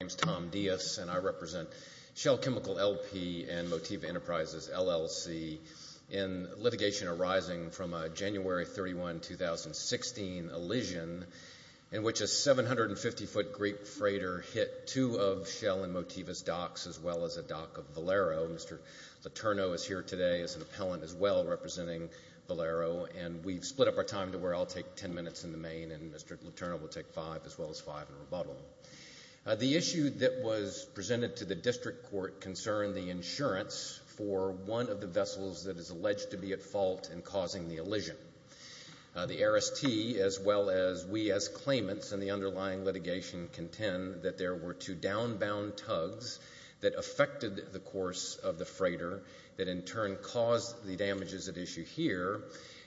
My name is Tom Dias and I represent Shell Chemical L.P. and Motiva Enterprises, LLC. In litigation arising from a January 31, 2016, elision in which a 750-foot Greek freighter hit two of Shell and Motiva's docks as well as a dock of Valero. Mr. Letourneau is here today as an appellant as well representing Valero and we've split up our time to where I'll take ten minutes in the main and Mr. Letourneau The issue that was presented to the district court concerned the insurance for one of the vessels that is alleged to be at fault in causing the elision. The RST as well as we as claimants in the underlying litigation contend that there were two downbound tugs that affected the course of the freighter that in turn caused the damages at issue here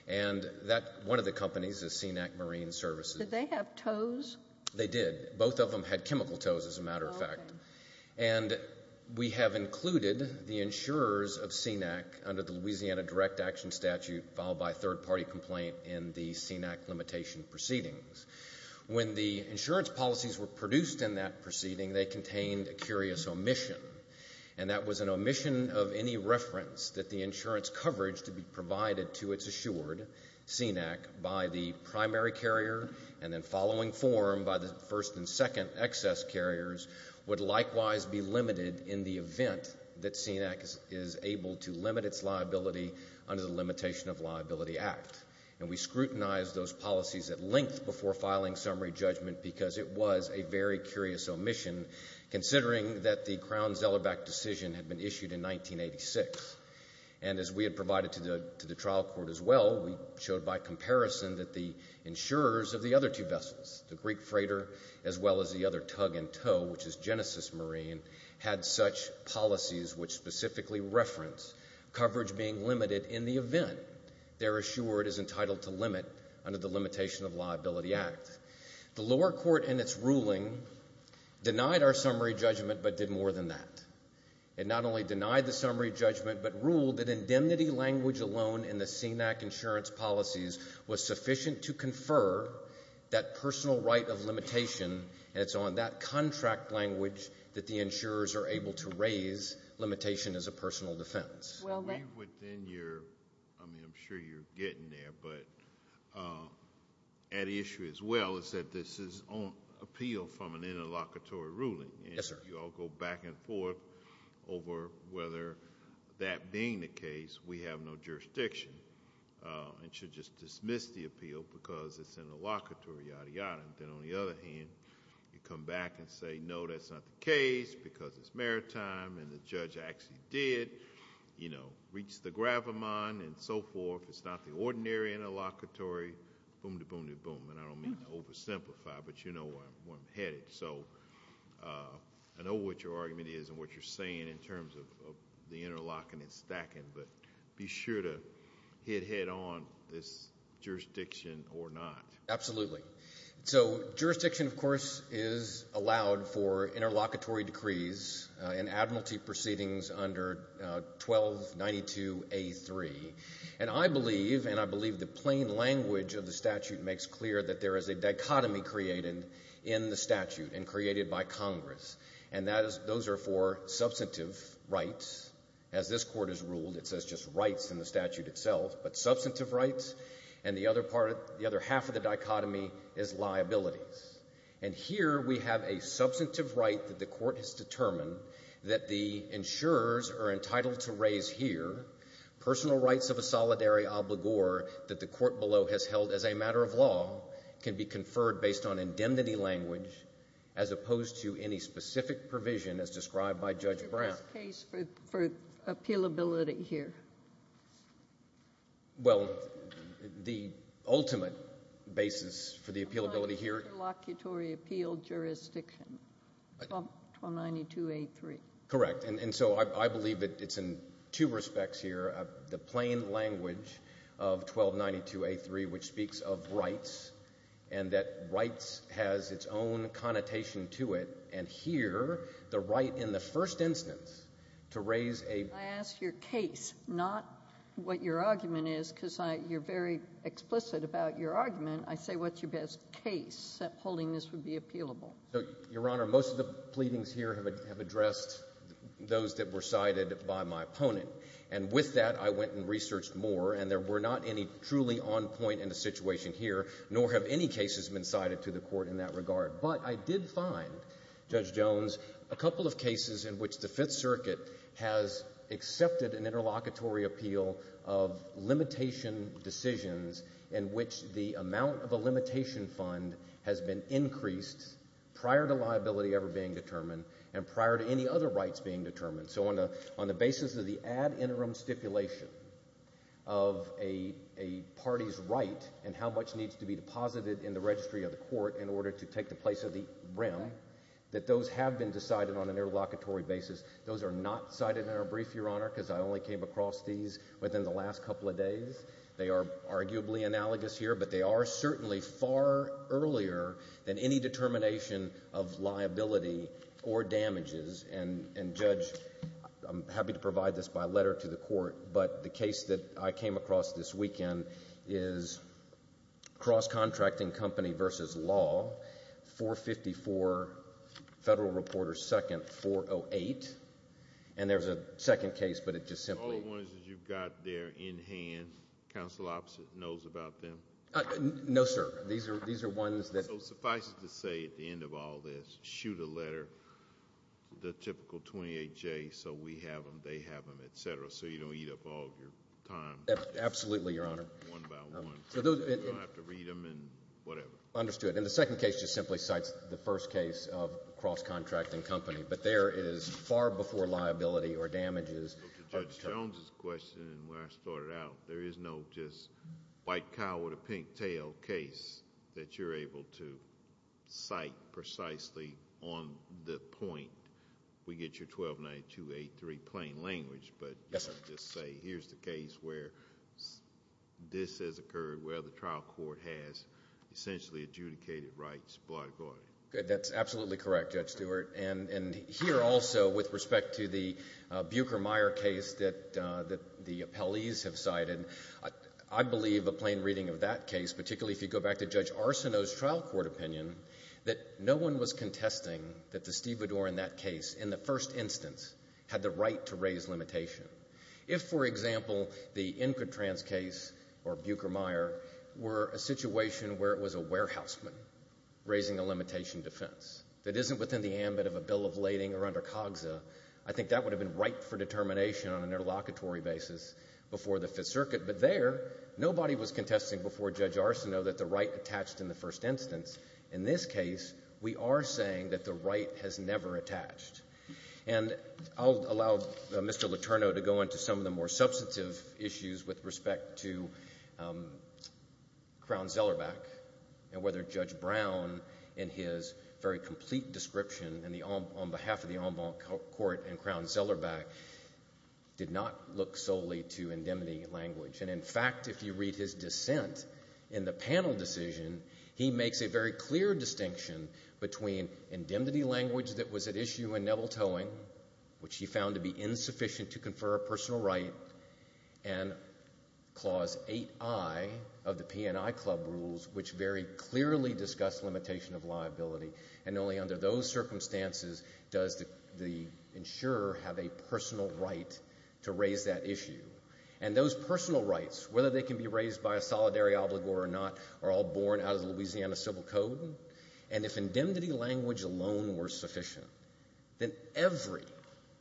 and that one of the companies is CNAC Marine Services. Did they have toes? They did. Both of them had chemical toes as a matter of fact and we have included the insurers of CNAC under the Louisiana Direct Action Statute followed by a third party complaint in the CNAC limitation proceedings. When the insurance policies were produced in that proceeding, they contained a curious omission and that was an omission of any reference that the insurance coverage to be provided to its insured CNAC by the primary carrier and then following form by the first and second excess carriers would likewise be limited in the event that CNAC is able to limit its liability under the Limitation of Liability Act and we scrutinized those policies at length before filing summary judgment because it was a very curious omission considering that the Crown-Zellerback decision had been issued in 1986 and as we well, we showed by comparison that the insurers of the other two vessels, the Greek freighter as well as the other tug and tow which is Genesis Marine had such policies which specifically reference coverage being limited in the event they're assured is entitled to limit under the Limitation of Liability Act. The lower court in its ruling denied our summary judgment but did more than that. It not only denied the insurance policies, was sufficient to confer that personal right of limitation and it's on that contract language that the insurers are able to raise limitation as a personal defense. Well, then you're, I mean, I'm sure you're getting there but at issue as well is that this is on appeal from an interlocutory ruling and you all go back and forth over whether that being the case, we have no jurisdiction and should just dismiss the appeal because it's interlocutory, yada, yada. Then on the other hand, you come back and say, no, that's not the case because it's maritime and the judge actually did reach the gravamon and so forth. It's not the ordinary interlocutory, boom-de-boom-de-boom and I don't mean to oversimplify but you know where I'm headed. I know what your view is of the interlocking and stacking but be sure to hit head on this jurisdiction or not. Absolutely. So jurisdiction, of course, is allowed for interlocutory decrees and admiralty proceedings under 1292A3 and I believe and I believe the plain language of the statute makes clear that there is a dichotomy created in the statute and those are for substantive rights. As this court has ruled, it says just rights in the statute itself but substantive rights and the other half of the dichotomy is liabilities. And here we have a substantive right that the court has determined that the insurers are entitled to raise here, personal rights of a solidary obligor that the court below has held as a matter of law can be conferred based on indemnity language as opposed to any specific provision as described by Judge Brown. Is this case for appealability here? Well, the ultimate basis for the appealability here... Interlocutory appeal jurisdiction, 1292A3. Correct. And so I believe that it's in two respects here, the plain language of the statute has its own connotation to it and here the right in the first instance to raise a... I ask your case, not what your argument is because you're very explicit about your argument. I say what's your best case that holding this would be appealable? Your Honor, most of the pleadings here have addressed those that were cited by my opponent. And with that, I went and researched more and there were not any truly on point in the situation here nor have any cases been cited to the court in that regard. But I did find, Judge Jones, a couple of cases in which the Fifth Circuit has accepted an interlocutory appeal of limitation decisions in which the amount of a limitation fund has been increased prior to liability ever being determined and prior to any other rights being determined. So on the basis of the ad interim stipulation of a party's right and how much needs to be deposited in the registry of the court in order to take the place of the rem, that those have been decided on an interlocutory basis. Those are not cited in our brief, Your Honor, because I only came across these within the last couple of days. They are arguably analogous here, but they are certainly far earlier than any determination of liability or damages. And, Judge, I'm happy to provide this by letter to the court, but the case that I came across this weekend is Cross Contracting Company v. Law, 454 Federal Reporter 2nd, 408. And there's a second case, but it just simply... So all the ones that you've got there in hand, counsel opposite knows about them? No, sir. These are ones that... So suffice it to say at the end of all this, shoot a letter, the typical 28J so we have them, they have them, et cetera, so you don't eat up all of your time. Absolutely, Your Honor. One by one. You don't have to read them and whatever. Understood. And the second case just simply cites the first case of Cross Contracting Company, but there it is far before liability or damages... Judge Jones's question and where I started out, there is no just white cow with a pink tail case that you're able to cite precisely on the point. We get your 1292, 283 plain language, but just say here's the case where this has occurred, where the trial court has essentially adjudicated rights, blah, blah, blah. That's absolutely correct, Judge Stewart. And here also with respect to the Buker Meyer case that the appellees have cited, I believe a plain reading of that case, particularly if you go back to Judge Arsinoe's trial court opinion, that no one was contesting that the stevedore in that case in the first instance had the right to raise limitation. If, for example, the Inquitrans case or Buker Meyer were a situation where it was a warehouseman raising a limitation defense that isn't within the ambit of a bill of lading or under COGSA, I think that would have been right for determination on an interlocutory basis before the Fifth Circuit. But there, nobody was contesting before Judge Arsinoe that the right was never attached. And I'll allow Mr. Letourneau to go into some of the more substantive issues with respect to Crown Zellerbach and whether Judge Brown, in his very complete description on behalf of the en banc court and Crown Zellerbach, did not look solely to indemnity language. And in fact, if you read his dissent in the panel decision, he makes a very clear distinction between indemnity language that was at issue in Neville Towing, which he found to be insufficient to confer a personal right, and Clause 8I of the P&I Club rules, which very clearly discuss limitation of liability. And only under those circumstances does the insurer have a personal right to raise that issue. And those personal rights, whether they can be or not, are all born out of the Louisiana Civil Code. And if indemnity language alone were sufficient, then every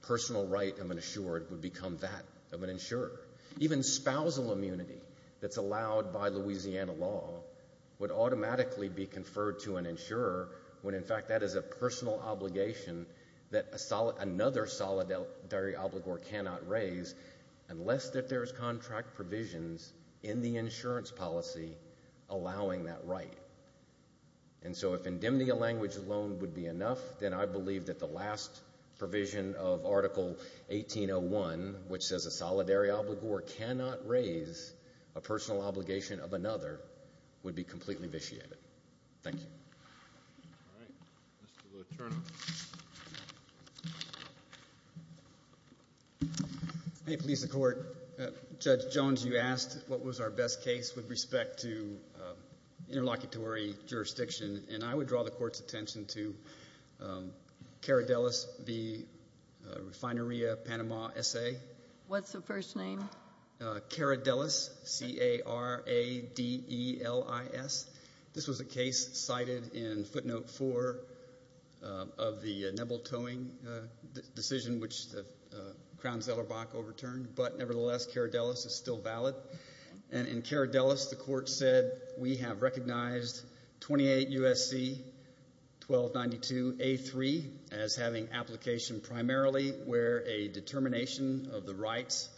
personal right of an insured would become that of an insurer. Even spousal immunity that's allowed by Louisiana law would automatically be conferred to an insurer when, in fact, that is a personal obligation that another solidary obligor cannot raise unless that there's contract provisions in the insurance policy allowing that right. And so if indemnity language alone would be enough, then I believe that the last provision of Article 1801, which says a solidary obligor cannot raise a personal obligation of another, would be completely vitiated. Thank you. All right. Mr. LaTourneau. May it please the Court. Judge Jones, you asked what was our best case with respect to interlocutory jurisdiction. And I would draw the Court's attention to Cara Delis, the Refineria Panama S.A. What's the first name? Cara Delis, C-A-R-A-D-E-L-I-S. This was a case cited in footnote four of the nebletoeing decision, which Crowns Ellerbach overturned. But nevertheless, Cara Delis is still valid. And in Cara Delis, the Court said, we have recognized 28 U.S.C. 1292A3 as having an application primarily where a determination of the rights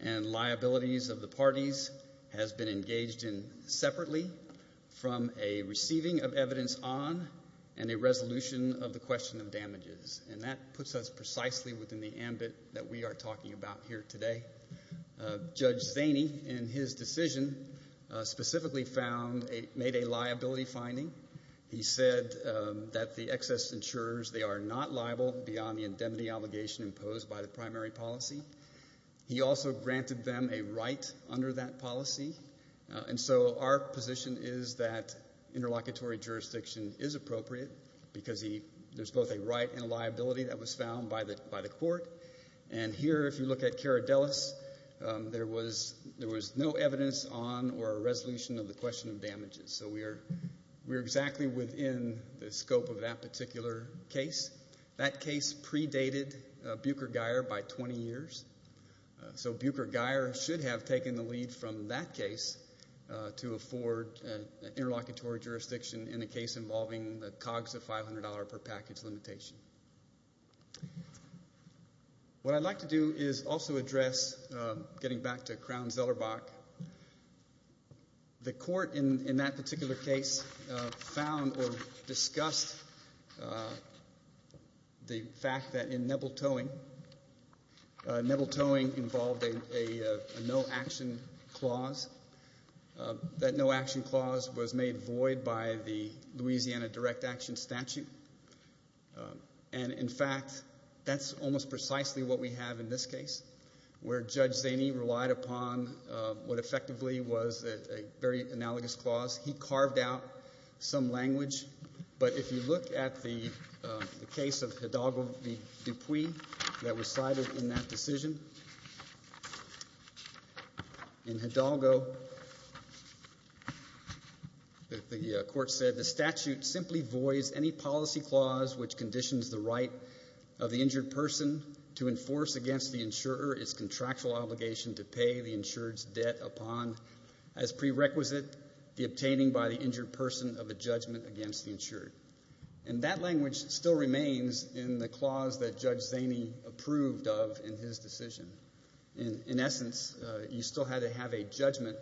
and liabilities of the parties has been engaged in separately from a receiving of evidence on and a resolution of the question of damages. And that puts us precisely within the ambit that we are talking about here today. Judge Zaney, in his decision, specifically made a liability finding. He said that the parties were entitled beyond the indemnity obligation imposed by the primary policy. He also granted them a right under that policy. And so our position is that interlocutory jurisdiction is appropriate because there's both a right and a liability that was found by the Court. And here, if you look at Cara Delis, there was no evidence on or a resolution of the question of damages. So we are exactly within the scope of that particular case. That case predated Bucher-Geyer by 20 years. So Bucher-Geyer should have taken the lead from that case to afford interlocutory jurisdiction in a case involving the COGS of $500 per package limitation. What I'd like to do is also address, getting back to Crown-Zellerbach, the Court in that particular case found or discussed the fact that in Nebel-Towing, Nebel-Towing involved a no-action clause. That no-action clause was made void by the Louisiana direct action statute. And in fact, that's almost precisely what we have in this case, where it's a very analogous clause. He carved out some language. But if you look at the case of Hidalgo v. Dupuis that was cited in that decision, in Hidalgo, the Court said, the statute simply voids any policy clause which conditions the right of the injured person to enforce against the insurer its contractual obligation to pay the insured's debt upon as prerequisite, the obtaining by the injured person of a judgment against the insured. And that language still remains in the clause that Judge Zaney approved of in his decision. In essence, you still had to have a judgment.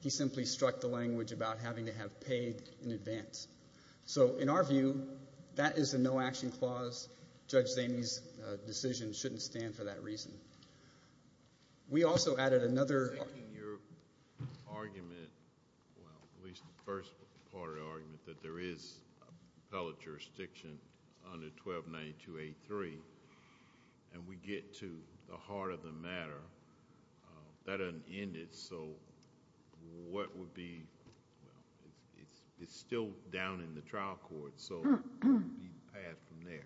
He simply struck the language about having to have paid in advance. So in our view, that is a no-action clause. Judge Zaney's decision shouldn't stand for that reason. We also added another argument, at least the first part of the argument, that there is appellate jurisdiction under 1292A3. And we get to the heart of the matter. That doesn't end it. So what would be, it's still down in the trial court. So what would be the path from there?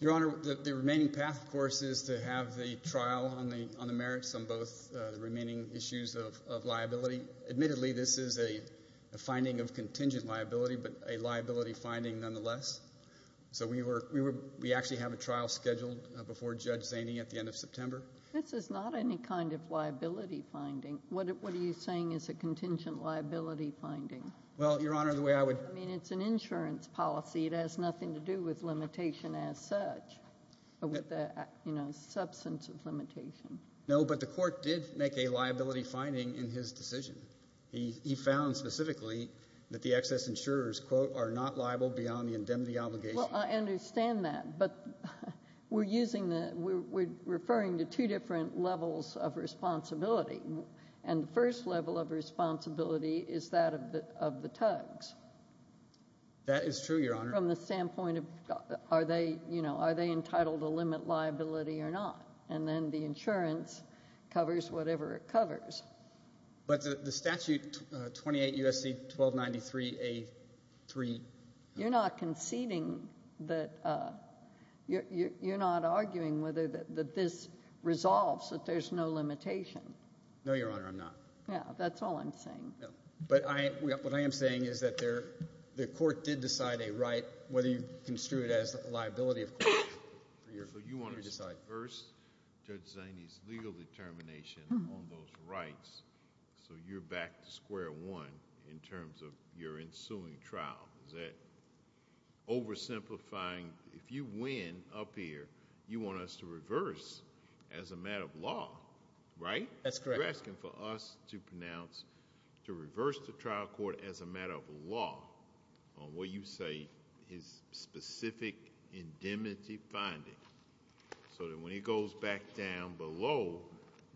Your Honor, the remaining path, of course, is to have the trial on the merits on both the remaining issues of liability. Admittedly, this is a finding of contingent liability, but a liability finding nonetheless. So we actually have a trial scheduled before Judge Zaney at the end of September. This is not any kind of liability finding. What are you saying is a contingent liability finding? Well, Your Honor, the way it is in this policy, it has nothing to do with limitation as such, or with the substance of limitation. No, but the court did make a liability finding in his decision. He found specifically that the excess insurers, quote, are not liable beyond the indemnity obligation. Well, I understand that, but we're using the, we're referring to two different levels of responsibility. And the first level of responsibility is that of the TUGS. That is true, Your Honor. From the standpoint of, are they, you know, are they entitled to limit liability or not? And then the insurance covers whatever it covers. But the statute, 28 U.S.C. 1293A3. You're not conceding that, you're not arguing whether this resolves that there's no limitation. No, Your Honor, I'm not. Yeah, that's all I'm saying. But I, what I am saying is that there, the court did decide a right, whether you construe it as a liability of court. So you want to reverse Judge Zaini's legal determination on those rights, so you're back to square one in terms of your ensuing trial. Is that oversimplifying, if you win up here, you want us to reverse as a matter of law, right? That's correct. You're asking for us to pronounce, to reverse the trial court as a matter of law on what you say is specific indemnity finding, so that when he goes back down below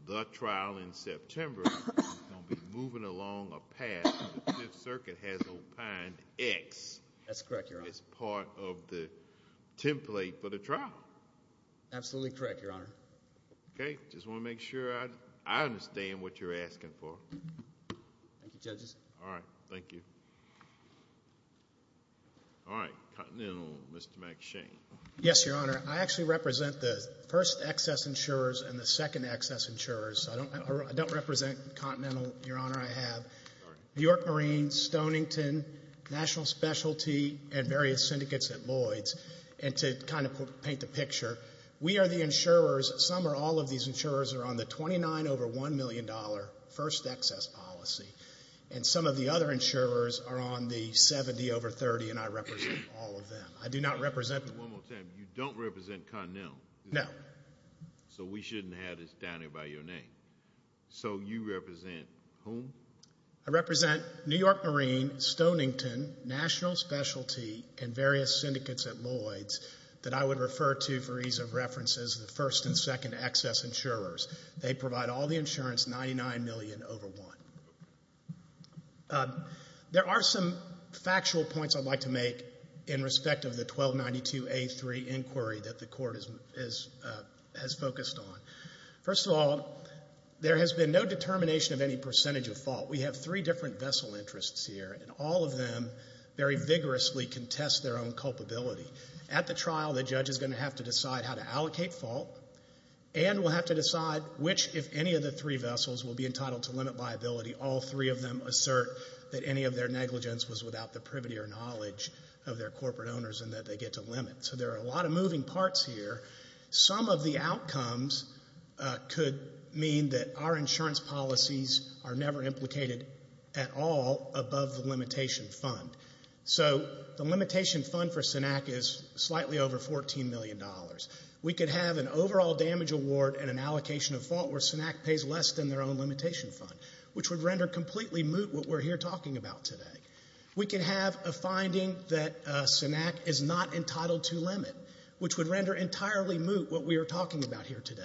the trial in September, he's going to be moving along a path that the Fifth Circuit has opined X. That's correct, Your Honor. As part of the template for the trial. Absolutely correct, Your Honor. Okay, just want to make sure I understand what you're asking for. Thank you, Judges. All right, thank you. All right, Continental, Mr. McShane. Yes, Your Honor, I actually represent the first excess insurers and the second excess insurers. I don't represent Continental, Your Honor, I have New York Marine, Stonington, National Specialty, and various syndicates at Lloyd's that I would refer to for ease of reference as the first excess insurers. Some or all of these insurers are on the $29 over $1 million first excess policy, and some of the other insurers are on the $70 over $30, and I represent all of them. I do not represent them. One more time, you don't represent Continental? No. So we shouldn't have this down here by your name. So you represent whom? I represent New York Marine, Stonington, National Specialty, and various syndicates at Lloyd's that I would refer to for ease of reference as the first and second excess insurers. They provide all the insurance, $99 million over $1. There are some factual points I'd like to make in respect of the 1292A3 inquiry that the Court has focused on. First of all, there has been no determination of any percentage of fault. We have three different vessel interests here, and all of them very vigorously contest their own culpability. At the trial, the judge is going to have to decide how to allocate fault and will have to decide which, if any of the three vessels, will be entitled to limit liability. All three of them assert that any of their negligence was without the privity or knowledge of their corporate owners and that they get to limit. So there are a lot of moving parts here. Some of the outcomes could mean that our insurance policies are never implicated at all above the limitation fund. So the limitation fund for SINAC is slightly over $14 million. We could have an overall damage award and an allocation of fault where SINAC pays less than their own limitation fund, which would render completely moot what we're here talking about today. We could have a finding that SINAC is not entitled to limit, which would render entirely moot what we are talking about here today.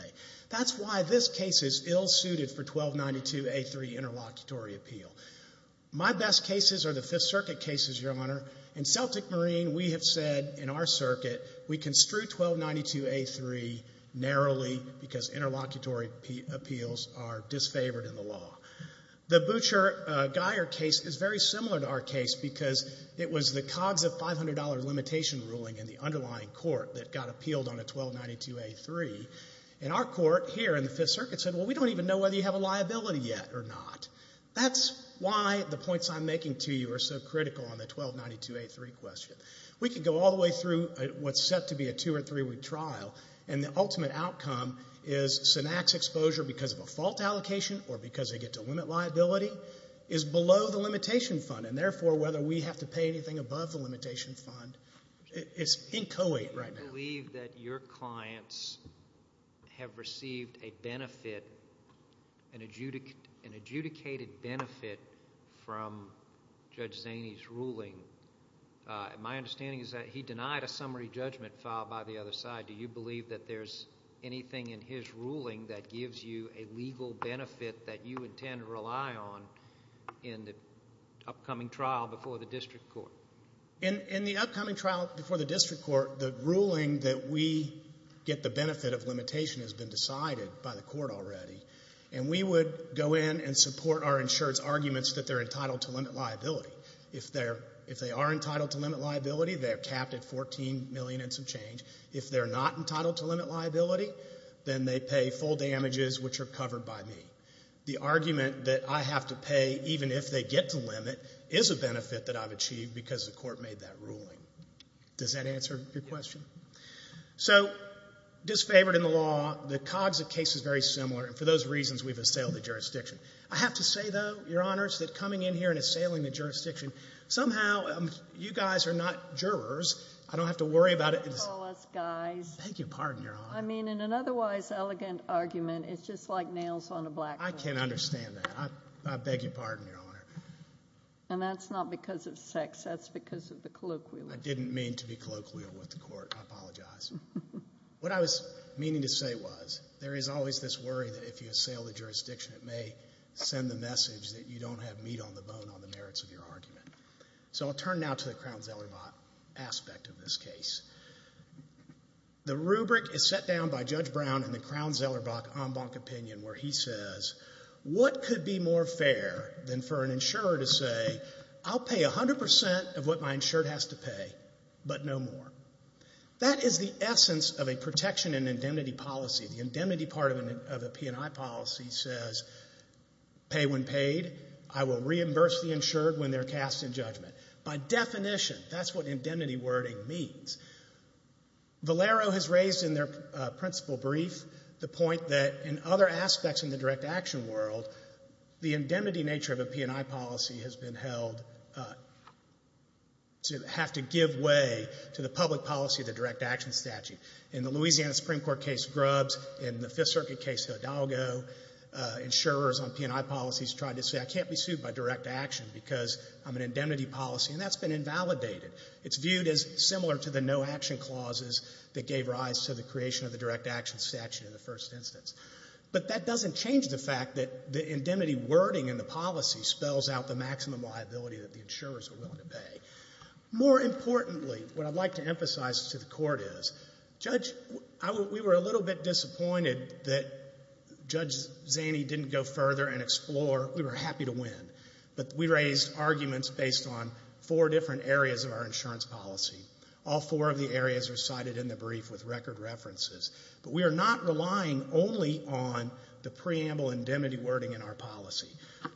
That's why this case is ill-suited for 1292A3 interlocutory appeal. My best cases are the Fifth Circuit cases, Your Honor. In Celtic Marine, we have said in our circuit we construe 1292A3 narrowly because interlocutory appeals are disfavored in the law. The Butcher-Geier case is very similar to our case because it was the COGS of $500 limitation ruling in the underlying court that got appealed on a 1292A3. And our court here in the Fifth Circuit said, well, we don't even know whether you have a liability yet or not. That's why the points I'm making to you are so critical on the 1292A3 question. We could go all the way through what's set to be a two- or three-week trial, and the ultimate outcome is SINAC's exposure because of a fault allocation or because they get to limit liability is below the limitation fund. And therefore, whether we have to pay anything above the limitation fund is inchoate right now. Do you believe that your clients have received a benefit, an adjudicated benefit from Judge Zaney's ruling? My understanding is that he denied a summary judgment filed by the other side. Do you believe that there's anything in his ruling that gives you a legal benefit that you intend to rely on in the upcoming trial before the district court? In the upcoming trial before the district court, the ruling that we get the benefit of limitation has been decided by the court already. And we would go in and support our insured's arguments that they're entitled to limit liability. If they are entitled to limit liability, they're capped at $14 million and some change. If they're not entitled to limit liability, then they pay full damages, which are covered by me. The argument that I have to pay, even if they get to limit, is a benefit that I've achieved because the court made that ruling. Does that answer your question? Yes. So, disfavored in the law, the Cogsit case is very similar. And for those reasons, we've assailed the jurisdiction. I have to say, though, Your Honors, that coming in here and assailing the jurisdiction, somehow you guys are not jurors. I don't have to worry about it. Don't call us guys. Thank you. Pardon, Your Honor. I mean, in an otherwise elegant argument, it's just like nails on a blackboard. I can't understand that. I beg your pardon, Your Honor. And that's not because of sex. That's because of the colloquial. I didn't mean to be colloquial with the court. I apologize. What I was meaning to say was there is always this worry that if you assail the jurisdiction, it may send the message that you don't have meat on the bone on the merits of your argument. So I'll turn now to the Crown-Zellerbach aspect of this case. The rubric is set down by Judge Brown in the case. What could be more fair than for an insurer to say, I'll pay 100% of what my insured has to pay, but no more? That is the essence of a protection and indemnity policy. The indemnity part of a P&I policy says, pay when paid. I will reimburse the insured when they're cast in judgment. By definition, that's what indemnity wording means. Valero has raised in their principal brief the point that in other aspects in the direct action world, the indemnity nature of a P&I policy has been held to have to give way to the public policy of the direct action statute. In the Louisiana Supreme Court case Grubbs, in the Fifth Circuit case Hidalgo, insurers on P&I policies tried to say, I can't be sued by direct action because I'm an indemnity policy, and that's been invalidated. It's viewed as similar to the no action clauses that gave rise to the creation of the direct action statute in the first instance. But that doesn't change the fact that the indemnity wording in the policy spells out the maximum liability that the insurers are willing to pay. More importantly, what I'd like to emphasize to the court is, Judge, we were a little bit disappointed that Judge Zaney didn't go further and explore. We were happy to win, but we raised arguments based on four different areas of our insurance policy. All four of the areas are cited in the brief with record references. But we are not relying only on the preamble indemnity wording in our policy.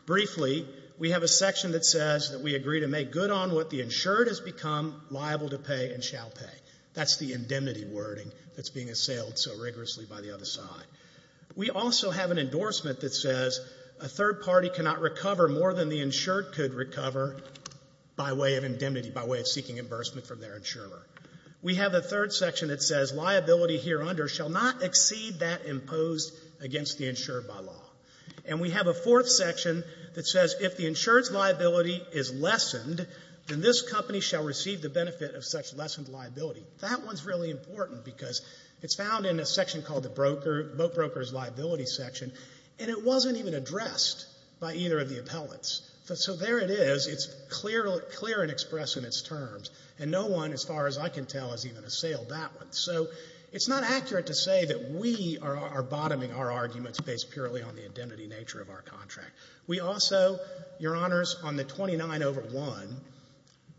Briefly, we have a section that says that we agree to make good on what the insured has become liable to pay and shall pay. That's the indemnity wording that's being assailed so rigorously by the other side. We also have an endorsement that says a third party cannot recover more than the insured could recover by way of indemnity, by way of seeking reimbursement from their insurer. We have a third section that says liability here under shall not exceed that imposed against the insured by law. And we have a fourth section that says if the insured's liability is lessened, then this company shall receive the benefit of such lessened liability. That one's really important because it's found in a section called the broker, boat broker's liability section, and it wasn't even addressed by either of the appellants. So there it is. It's clear and expressed in its terms. And no one, as far as I can tell, has even assailed that one. So it's not accurate to say that we are bottoming our arguments based purely on the indemnity nature of our contract. We also, Your Honors, on the 29 over 1,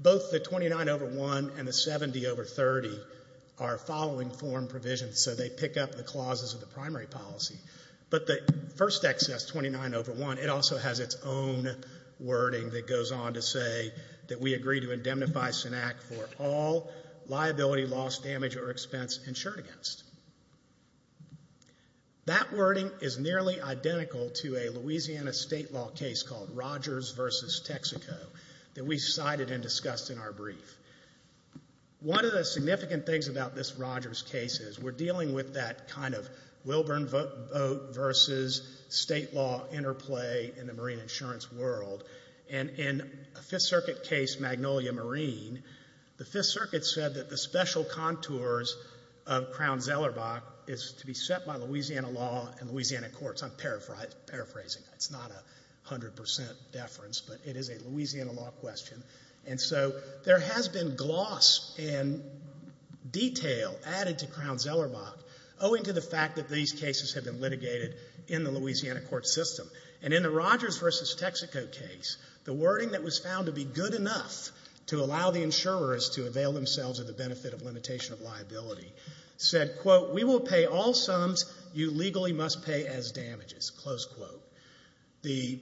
both the 29 over 1 and the 70 over 30 are following form provisions, so they pick up the clauses of the primary policy. But the first excess 29 over 1, it also has its own wording that goes on to say that we agree to indemnify SINAC for all liability, loss, damage, or expense insured against. That wording is nearly identical to a Louisiana state law case called Rogers versus Texaco that we cited and discussed in our brief. One of the significant things about this Rogers case is we're dealing with that kind of Wilburn vote versus state law interplay in the Fifth Circuit case, Magnolia Marine. The Fifth Circuit said that the special contours of Crown-Zellerbach is to be set by Louisiana law and Louisiana courts. I'm paraphrasing. It's not a 100 percent deference, but it is a Louisiana law question. And so there has been gloss and detail added to Crown-Zellerbach owing to the fact that these cases have been litigated in the Louisiana court system. And in the Rogers versus Texaco case, the wording that was found to be good enough to allow the insurers to avail themselves of the benefit of limitation of liability said, quote, we will pay all sums you legally must pay as damages, close quote. The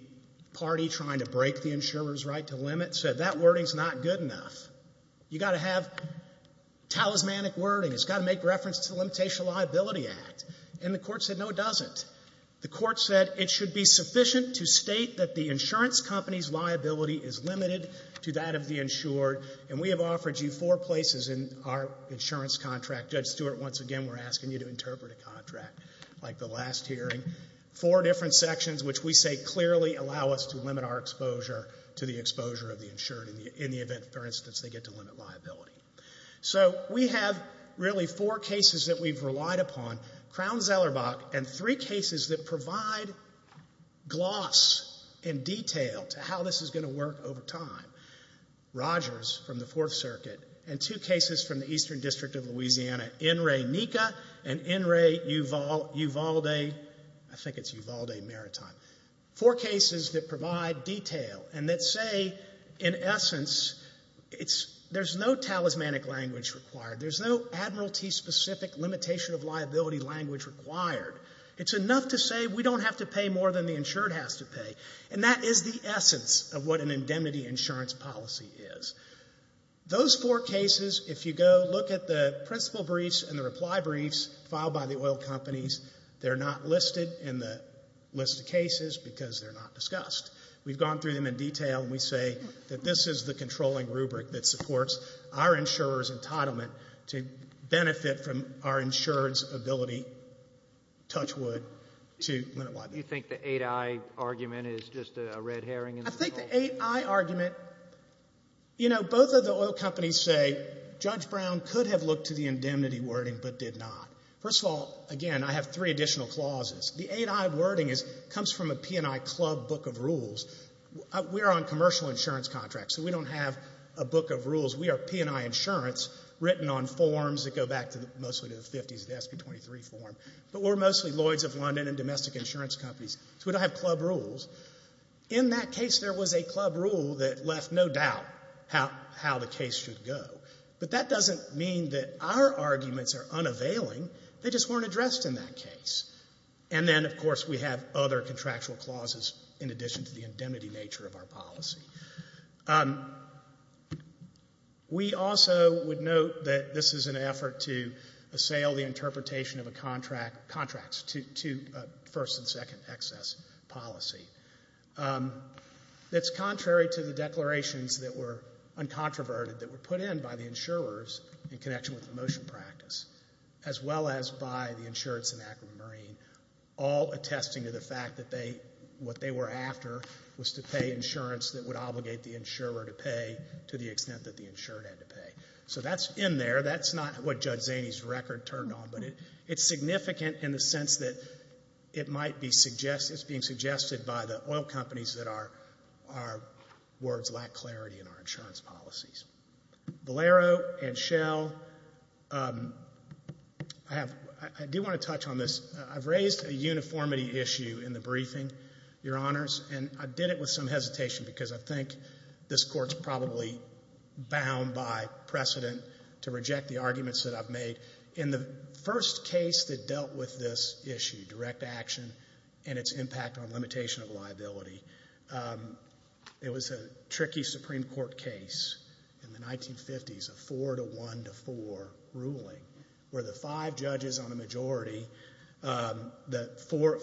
party trying to break the insurer's right to limit said that wording is not good enough. You've got to have talismanic wording. It's got to make reference to the Limitation of Liability Act. And the court said, no, it doesn't. The court said it should be sufficient to state that the insurance company's liability is limited to that of the insured. And we have offered you four places in our insurance contract. Judge Stewart, once again, we're asking you to interpret a contract like the last hearing. Four different sections which we say clearly allow us to limit our exposure to the exposure of the insured in the event, for instance, they get to limit liability. So we have really four cases that we've relied upon, Crown-Zellerbach, and three cases that we've worked over time, Rogers from the Fourth Circuit, and two cases from the Eastern District of Louisiana, N. Ray Nika and N. Ray Uvalde, I think it's Uvalde Maritime. Four cases that provide detail and that say, in essence, there's no talismanic language required. There's no Admiralty-specific limitation of liability language required. It's enough to say we don't have to pay more than the insured has to pay. And that is the indemnity insurance policy is. Those four cases, if you go look at the principal briefs and the reply briefs filed by the oil companies, they're not listed in the list of cases because they're not discussed. We've gone through them in detail and we say that this is the controlling rubric that supports our insurer's entitlement to benefit from our insurer's ability, touch wood, to limit liability. Do you think the 8i argument is just a red herring? I think the 8i argument, you know, both of the oil companies say Judge Brown could have looked to the indemnity wording but did not. First of all, again, I have three additional clauses. The 8i wording comes from a P&I club book of rules. We're on commercial insurance contracts, so we don't have a book of rules. We are P&I insurance written on forms that go back mostly to the 50s, the SB-23 form. But we're mostly Lloyds of London and domestic insurance companies, so we don't have club rules. In that case, there was a club rule that left no doubt how the case should go. But that doesn't mean that our arguments are unavailing. They just weren't addressed in that case. And then, of course, we have other contractual clauses in addition to the indemnity nature of our policy. We also would note that this is an effort to assail the interpretation of a contract to first and second excess policy. That's contrary to the declarations that were uncontroverted, that were put in by the insurers in connection with the motion practice, as well as by the insurance enactment marine, all attesting to the fact that what they were after was to pay insurance that would obligate the insurer to pay to the extent that the insurer had to pay. So that's in there. That's not what Judge Zaney's record turned on. But it's significant in the sense that it might be suggested, it's being suggested by the oil companies that our words lack clarity in our insurance policies. Valero and Shell, I do want to touch on this. I've raised a uniformity issue in the briefing, Your Honors, and I did it with some hesitation because I think this Court's probably bound by precedent to reject the arguments that I've made. In the first case that dealt with this issue, direct action and its impact on limitation of liability, it was a tricky Supreme Court case in the 1950s, a four to one to four ruling, where the five judges on a majority, the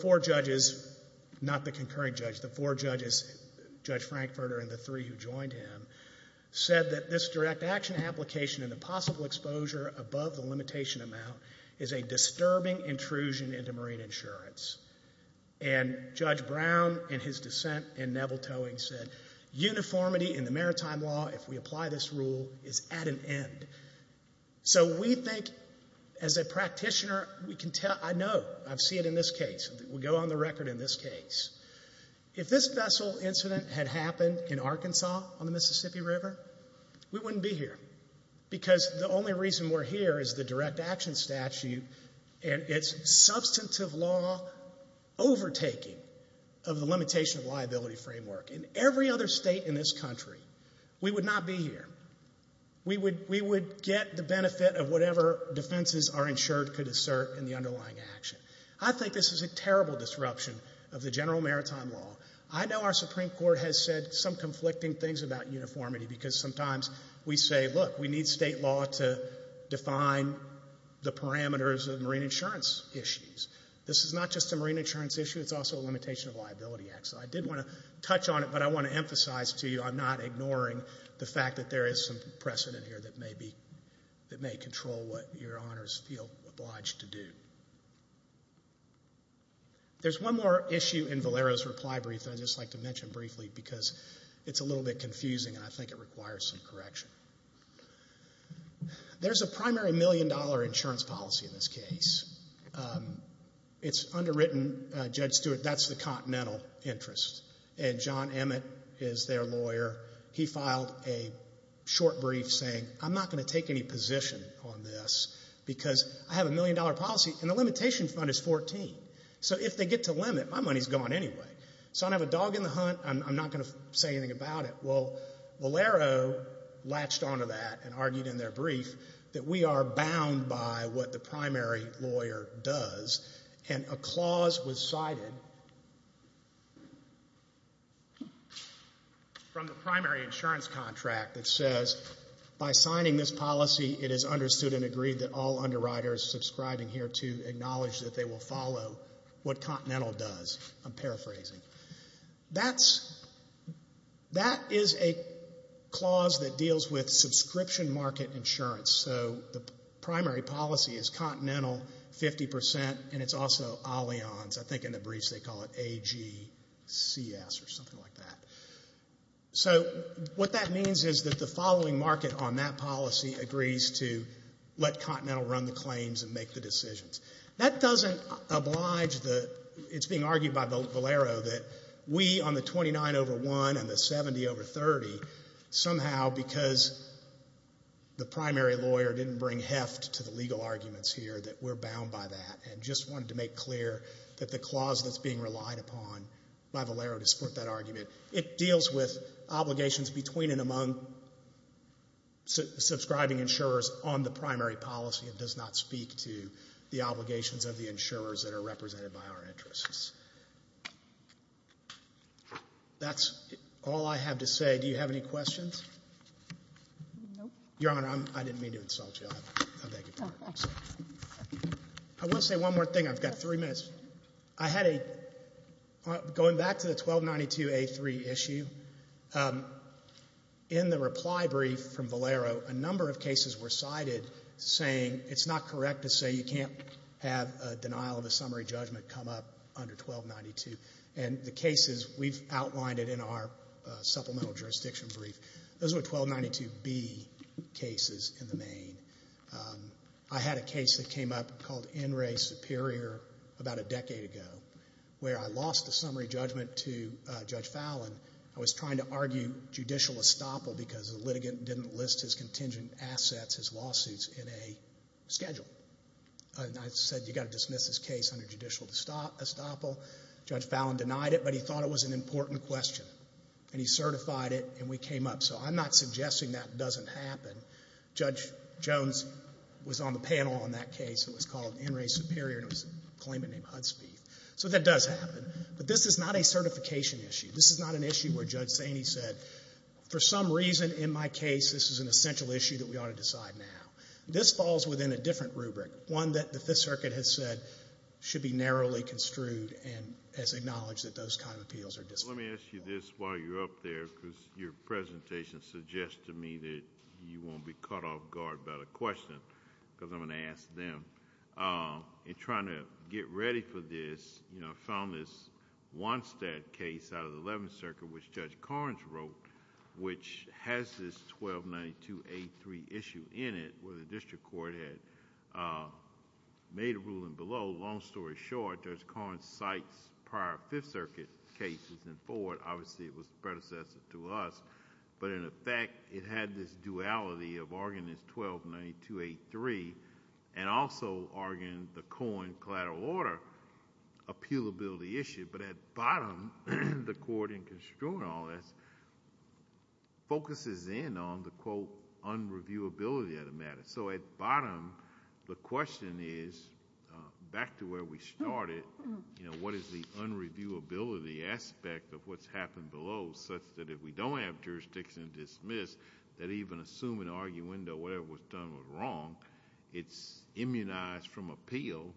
four judges, not the concurring judge, the four judges, Judge Frankfurter and the three who joined him, said that this direct action application and the possible exposure above the limitation amount is a disturbing intrusion into marine insurance. And Judge Brown in his dissent in Neville Towing said, uniformity in the maritime law, if we apply this rule, is at an end. So we think, as a practitioner, we can tell, I know, I see it in this case. We go on the record in this case. If this vessel incident had happened in Arkansas on the Mississippi River, we wouldn't be here because the only reason we're here is the direct action statute and its substantive law overtaking of the limitation of liability framework. In every other state in this country, we would not be here. We would get the benefit of whatever defenses are insured could assert in the underlying action. I think this is a terrible disruption of the general maritime law. I know our Supreme Court has said some conflicting things about uniformity because sometimes we say, look, we need state law to define the parameters of marine insurance issues. This is not just a marine insurance issue. It's also a limitation of liability acts. I did want to touch on it, but I want to emphasize to you I'm not ignoring the fact that there is some precedent here that may be, that may control what your honors feel obliged to do. There's one more issue in Valero's reply brief that I'd just like to mention briefly because it's a little bit confusing and I think it requires some correction. There's a primary million-dollar insurance policy in this case. It's underwritten. Judge Stewart, that's the continental interest. And John Emmett is their lawyer. He filed a short brief saying, I'm not going to take any position on this because I have a million-dollar policy and the limitation fund is 14. So if they get to limit, my money's gone anyway. So I don't have a dog in the hunt. I'm not going to say anything about it. Well, Valero latched onto that and argued in their brief that we are bound by what the primary lawyer does. And a clause was cited from the primary insurance contract that says, by signing this policy, it is understood and agreed that all underwriters subscribing here to acknowledge that they will follow what continental does. I'm paraphrasing. That is a clause that deals with subscription market insurance. So the primary policy is continental 50% and it's also Allianz. I think in the briefs they call it AGCS or something like that. So what that means is that the following market on that policy agrees to let continental run the claims and make the decisions. That doesn't oblige the, it's being argued by Valero that we on the 29 over 1 and the 70 over 30, somehow because the primary lawyer didn't bring heft to the legal arguments here that we're bound by that and just wanted to make clear that the clause that's being relied upon by Valero to support that argument. It deals with obligations between and among subscribing insurers on the primary policy. It does not speak to the obligations of the insurers that are represented by our interests. That's all I have to say. Do you have any questions? No. Your Honor, I didn't mean to insult you. I beg your pardon. I want to say one more thing. I've got three minutes. I had a, going back to the 1292A3 issue, in the reply brief from Valero, a number of cases were cited saying it's not correct to say you can't have a denial of a summary judgment come up under 1292 and the cases we've outlined it in our supplemental jurisdiction brief. Those were 1292B cases in the main. I had a case that came up called NRA Superior about a decade ago where I lost the summary judgment to Judge Fallon. I was trying to argue judicial estoppel because the litigant didn't list his contingent assets, his lawsuits, in a schedule. I said you've got to dismiss this case under judicial estoppel. Judge Fallon denied it, but he thought it was an important question. And he certified it and we came up. So I'm not suggesting that doesn't happen. Judge Jones was on the panel on that case. It was called NRA Superior and it was a claimant named Hudspeeth. So that does happen. But this is not a certification issue. This is not an issue where Judge Saney said for some reason in my case this is an essential issue that we ought to decide now. This falls within a different rubric, one that the Fifth Circuit has said should be narrowly construed and has acknowledged that those kind of appeals are disqualified. Let me ask you this while you're up there because your presentation suggests to me that you won't be caught off guard about a question because I'm going to ask them. In trying to get ready for this, I found this Wonstad case out of the Eleventh Circuit which Judge Corrins wrote, which has this 1292A3 issue in it where the district court had made a ruling below. Long story short, Judge Corrins cites prior Fifth Circuit cases in forward. Obviously, it was predecessor to us. But in effect, it had this duality of arguing this 1292A3 and also arguing the Cohen collateral order appealability issue. But at bottom, the court in construing all this focuses in on the quote unreviewability of the matter. At bottom, the question is, back to where we started, what is the unreviewability aspect of what's happened below such that if we don't have jurisdiction dismissed, that even assuming arguendo, whatever was done was wrong, it's immunized from appeal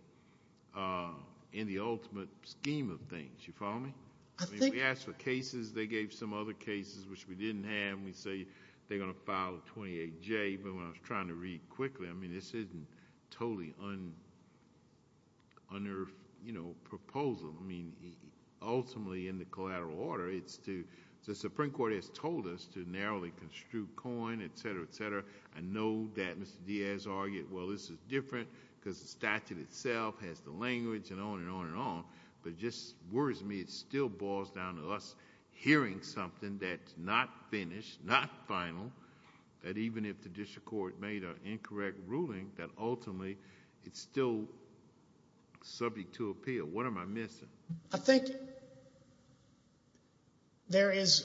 in the ultimate scheme of things. You follow me? I think so. We asked for cases. They gave some other cases which we didn't have. When we say they're going to file 28J, even when I was trying to read quickly, I mean, this isn't totally under proposal. I mean, ultimately in the collateral order, it's the Supreme Court has told us to narrowly construe Cohen, et cetera, et cetera. I know that Mr. Diaz argued, well, this is different because the statute itself has the language and on and on and on. But it just worries me it still boils down to us hearing something that's not finished, not final, that even if the district court made an incorrect ruling, that ultimately it's still subject to appeal. What am I missing? I think there is,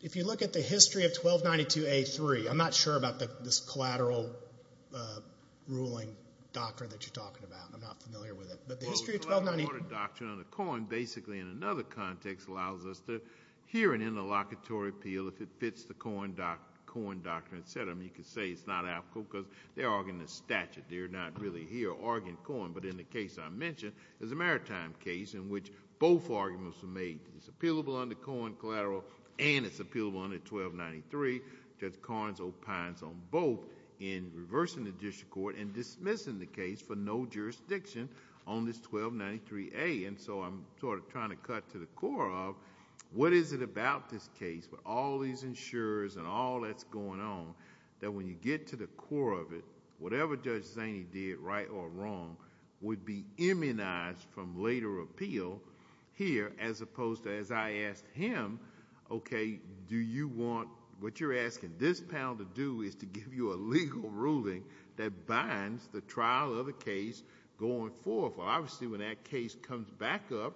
if you look at the history of 1292A3, I'm not sure about this collateral ruling doctrine that you're talking about. I'm not familiar with it. But the history of 1292A3. Well, the collateral order doctrine under Cohen basically in another context allows us to hear an interlocutory appeal if it fits the Cohen doctrine, et cetera. I mean, you could say it's not applicable because they're arguing the statute. They're not really here arguing Cohen. But in the case I mentioned, there's a maritime case in which both arguments were made. It's appealable under Cohen collateral and it's appealable under 1293. Judge Carnes opines on both in reversing the district court and dismissing the case for no jurisdiction on this 1293A. And so I'm sort of trying to cut to the core of what is it about this case with all these insurers and all that's going on that when you get to the core of it, whatever Judge Zaney did right or wrong would be immunized from later appeal here as opposed to as I asked him, okay, what you're asking this panel to do is to give you a legal ruling that binds the trial of the case going forth. Obviously, when that case comes back up,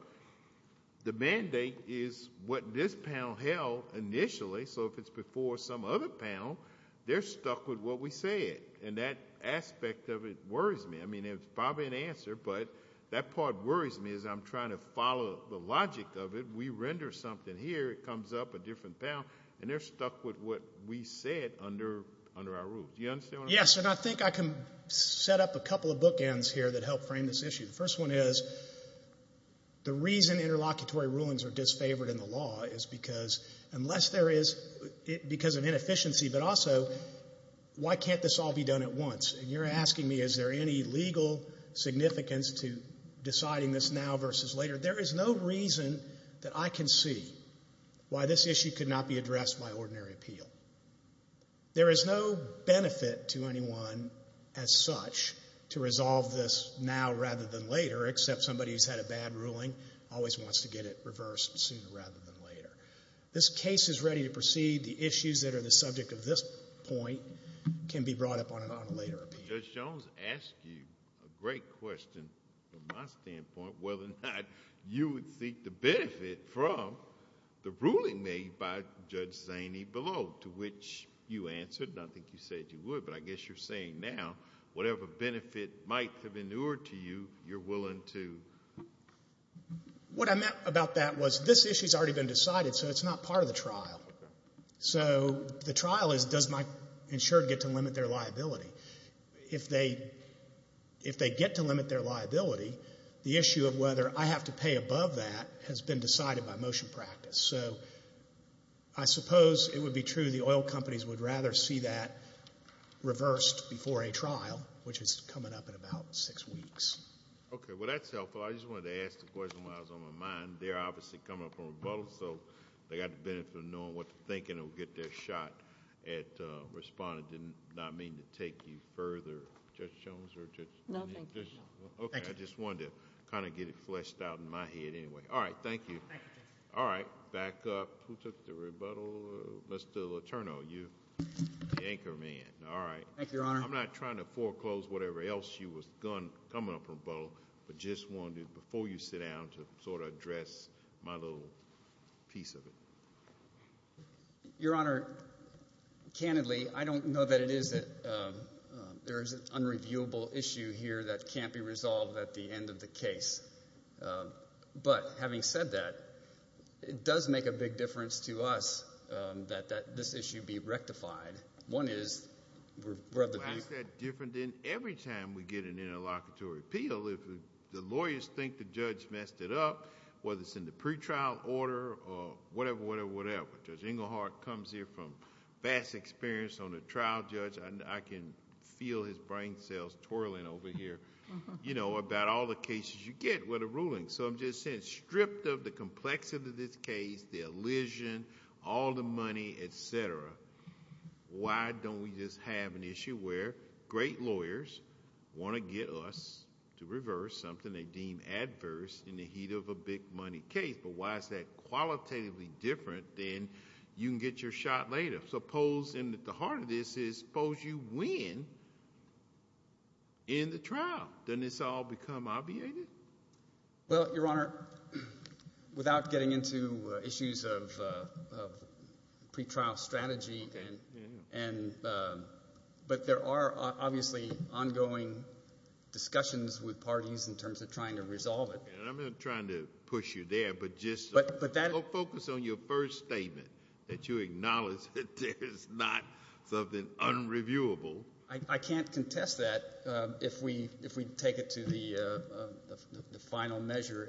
the mandate is what this panel held initially. So if it's before some other panel, they're stuck with what we said. And that aspect of it worries me. I mean, it's probably an answer, but that part worries me is I'm trying to follow the logic of it. We render something here. It comes up, a different panel, and they're stuck with what we said under our rules. Do you understand what I'm saying? Yes, and I think I can set up a couple of bookends here that help frame this issue. The first one is the reason interlocutory rulings are disfavored in the law is because unless there is because of inefficiency, but also why can't this all be done at once? And you're asking me is there any legal significance to deciding this now versus later. There is no reason that I can see why this issue could not be addressed by ordinary appeal. There is no benefit to anyone as such to resolve this now rather than later, except somebody who's had a bad ruling always wants to get it reversed sooner rather than later. This case is ready to proceed. The issues that are the subject of this point can be brought up on a later appeal. Judge Jones asked you a great question from my standpoint, whether or not you would seek the benefit from the ruling made by Judge Zaney below, to which you answered, and I think you said you would, but I guess you're saying now, whatever benefit might have inured to you, you're willing to? What I meant about that was this issue's already been decided, so it's not part of the trial. So the trial is does my insured get to limit their liability? If they get to limit their liability, the issue of whether I have to pay above that has been decided by motion practice. So I suppose it would be true the oil companies would rather see that reversed before a trial, which is coming up in about six weeks. Okay, well, that's helpful. I just wanted to ask the question while it was on my mind. They're obviously coming up with a rebuttal, so they got the benefit of knowing what to think, and they'll get their shot at responding. I did not mean to take you further, Judge Jones. No, thank you. Okay, I just wanted to kind of get it fleshed out in my head anyway. All right, thank you. Thank you, Judge. All right, back up. Who took the rebuttal? Mr. Letourneau, you, the anchorman. All right. I'm not trying to foreclose whatever else you was coming up with a rebuttal, but just wanted, before you sit down, to sort of address my little piece of it. Your Honor, candidly, I don't know that it is that there is an unreviewable issue here that can't be resolved at the end of the case. But having said that, it does make a big difference to us that this issue be rectified. One is we're of the opinion. It makes that different than every time we get an interlocutory appeal. If the lawyers think the judge messed it up, whether it's in the pretrial order or whatever, whatever, whatever. Judge Englehart comes here from vast experience on a trial, Judge. I can feel his brain cells twirling over here about all the cases you get with a ruling. I'm just saying, stripped of the complexity of this case, the elision, all the money, et cetera, why don't we just have an issue where great lawyers want to get us to reverse something they deem adverse in the heat of a big money case? But why is that qualitatively different than you can get your shot later? Suppose, and at the heart of this is, suppose you win in the trial. Doesn't this all become obviated? Well, Your Honor, without getting into issues of pretrial strategy, but there are obviously ongoing discussions with parties in terms of trying to resolve it. I'm not trying to push you there, but just focus on your first statement that you acknowledge that there is not something unreviewable. I can't contest that if we take it to the final measure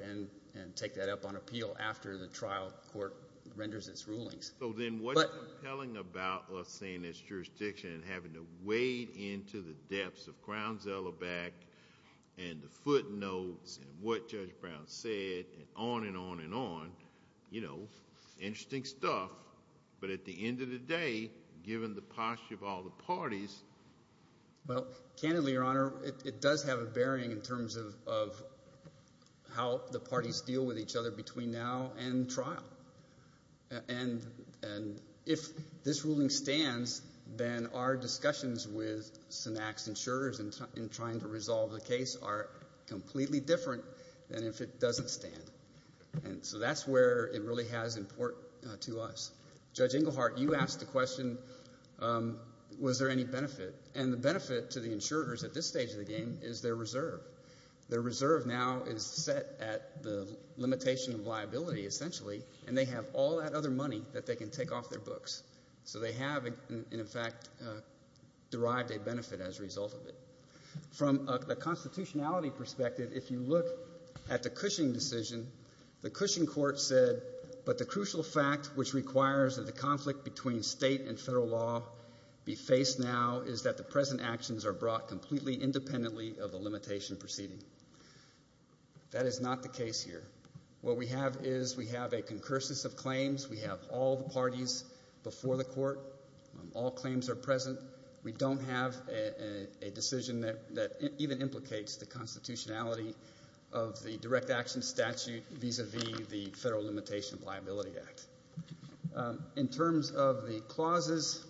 and take that up on appeal after the trial court renders its rulings. So then what's compelling about us seeing this jurisdiction and having to wade into the depths of Crowns-Ellerbeck and the footnotes and what Judge Brown said and on and on and on, interesting stuff, but at the end of the day, given the posture of all the parties. Well, candidly, Your Honor, it does have a bearing in terms of how the parties deal with each other between now and trial. And if this ruling stands, then our discussions with Synax insurers in trying to resolve the case are completely different than if it doesn't stand. And so that's where it really has import to us. Judge Engelhardt, you asked the question, was there any benefit? And the benefit to the insurers at this stage of the game is their reserve. Their reserve now is set at the limitation of liability, essentially, and they have all that other money that they can take off their books. So they have, in fact, derived a benefit as a result of it. From a constitutionality perspective, if you look at the Cushing decision, the Cushing court said, but the crucial fact which requires that the conflict between state and federal law be faced now is that the present actions are brought completely independently of the limitation proceeding. That is not the case here. What we have is we have a concursus of claims. We have all the parties before the court. All claims are present. We don't have a decision that even implicates the constitutionality of the direct action statute vis-a-vis the Federal Limitation of Liability Act. In terms of the clauses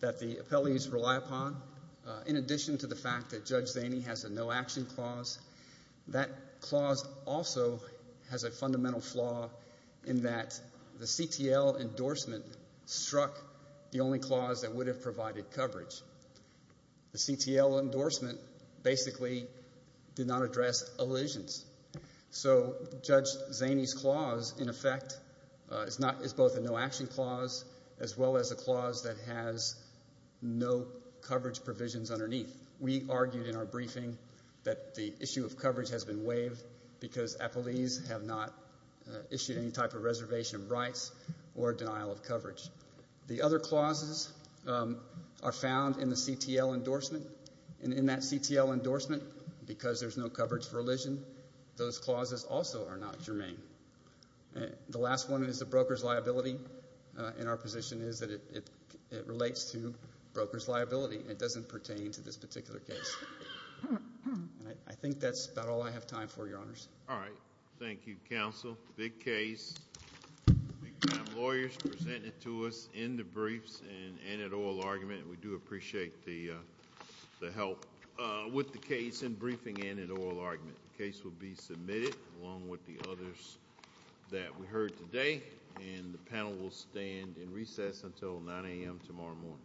that the appellees rely upon, in addition to the fact that Judge Zaney has a no action clause, that clause also has a fundamental flaw in that the CTL endorsement struck the only clause that would have provided coverage. The CTL endorsement basically did not address elisions. So Judge Zaney's clause, in effect, is both a no action clause as well as a clause that has no coverage provisions underneath. We argued in our briefing that the issue of coverage has been waived because appellees have not issued any type of reservation of rights or denial of coverage. The other clauses are found in the CTL endorsement. And in that CTL endorsement, because there's no coverage for elision, those clauses also are not germane. The last one is the broker's liability. And our position is that it relates to broker's liability. It doesn't pertain to this particular case. And I think that's about all I have time for, Your Honors. All right. Thank you, Counsel. Big case. Big time lawyers presented to us in the briefs and at oral argument. We do appreciate the help with the case in briefing and at oral argument. The case will be submitted along with the others that we heard today. And the panel will stand in recess until 9 a.m. tomorrow morning.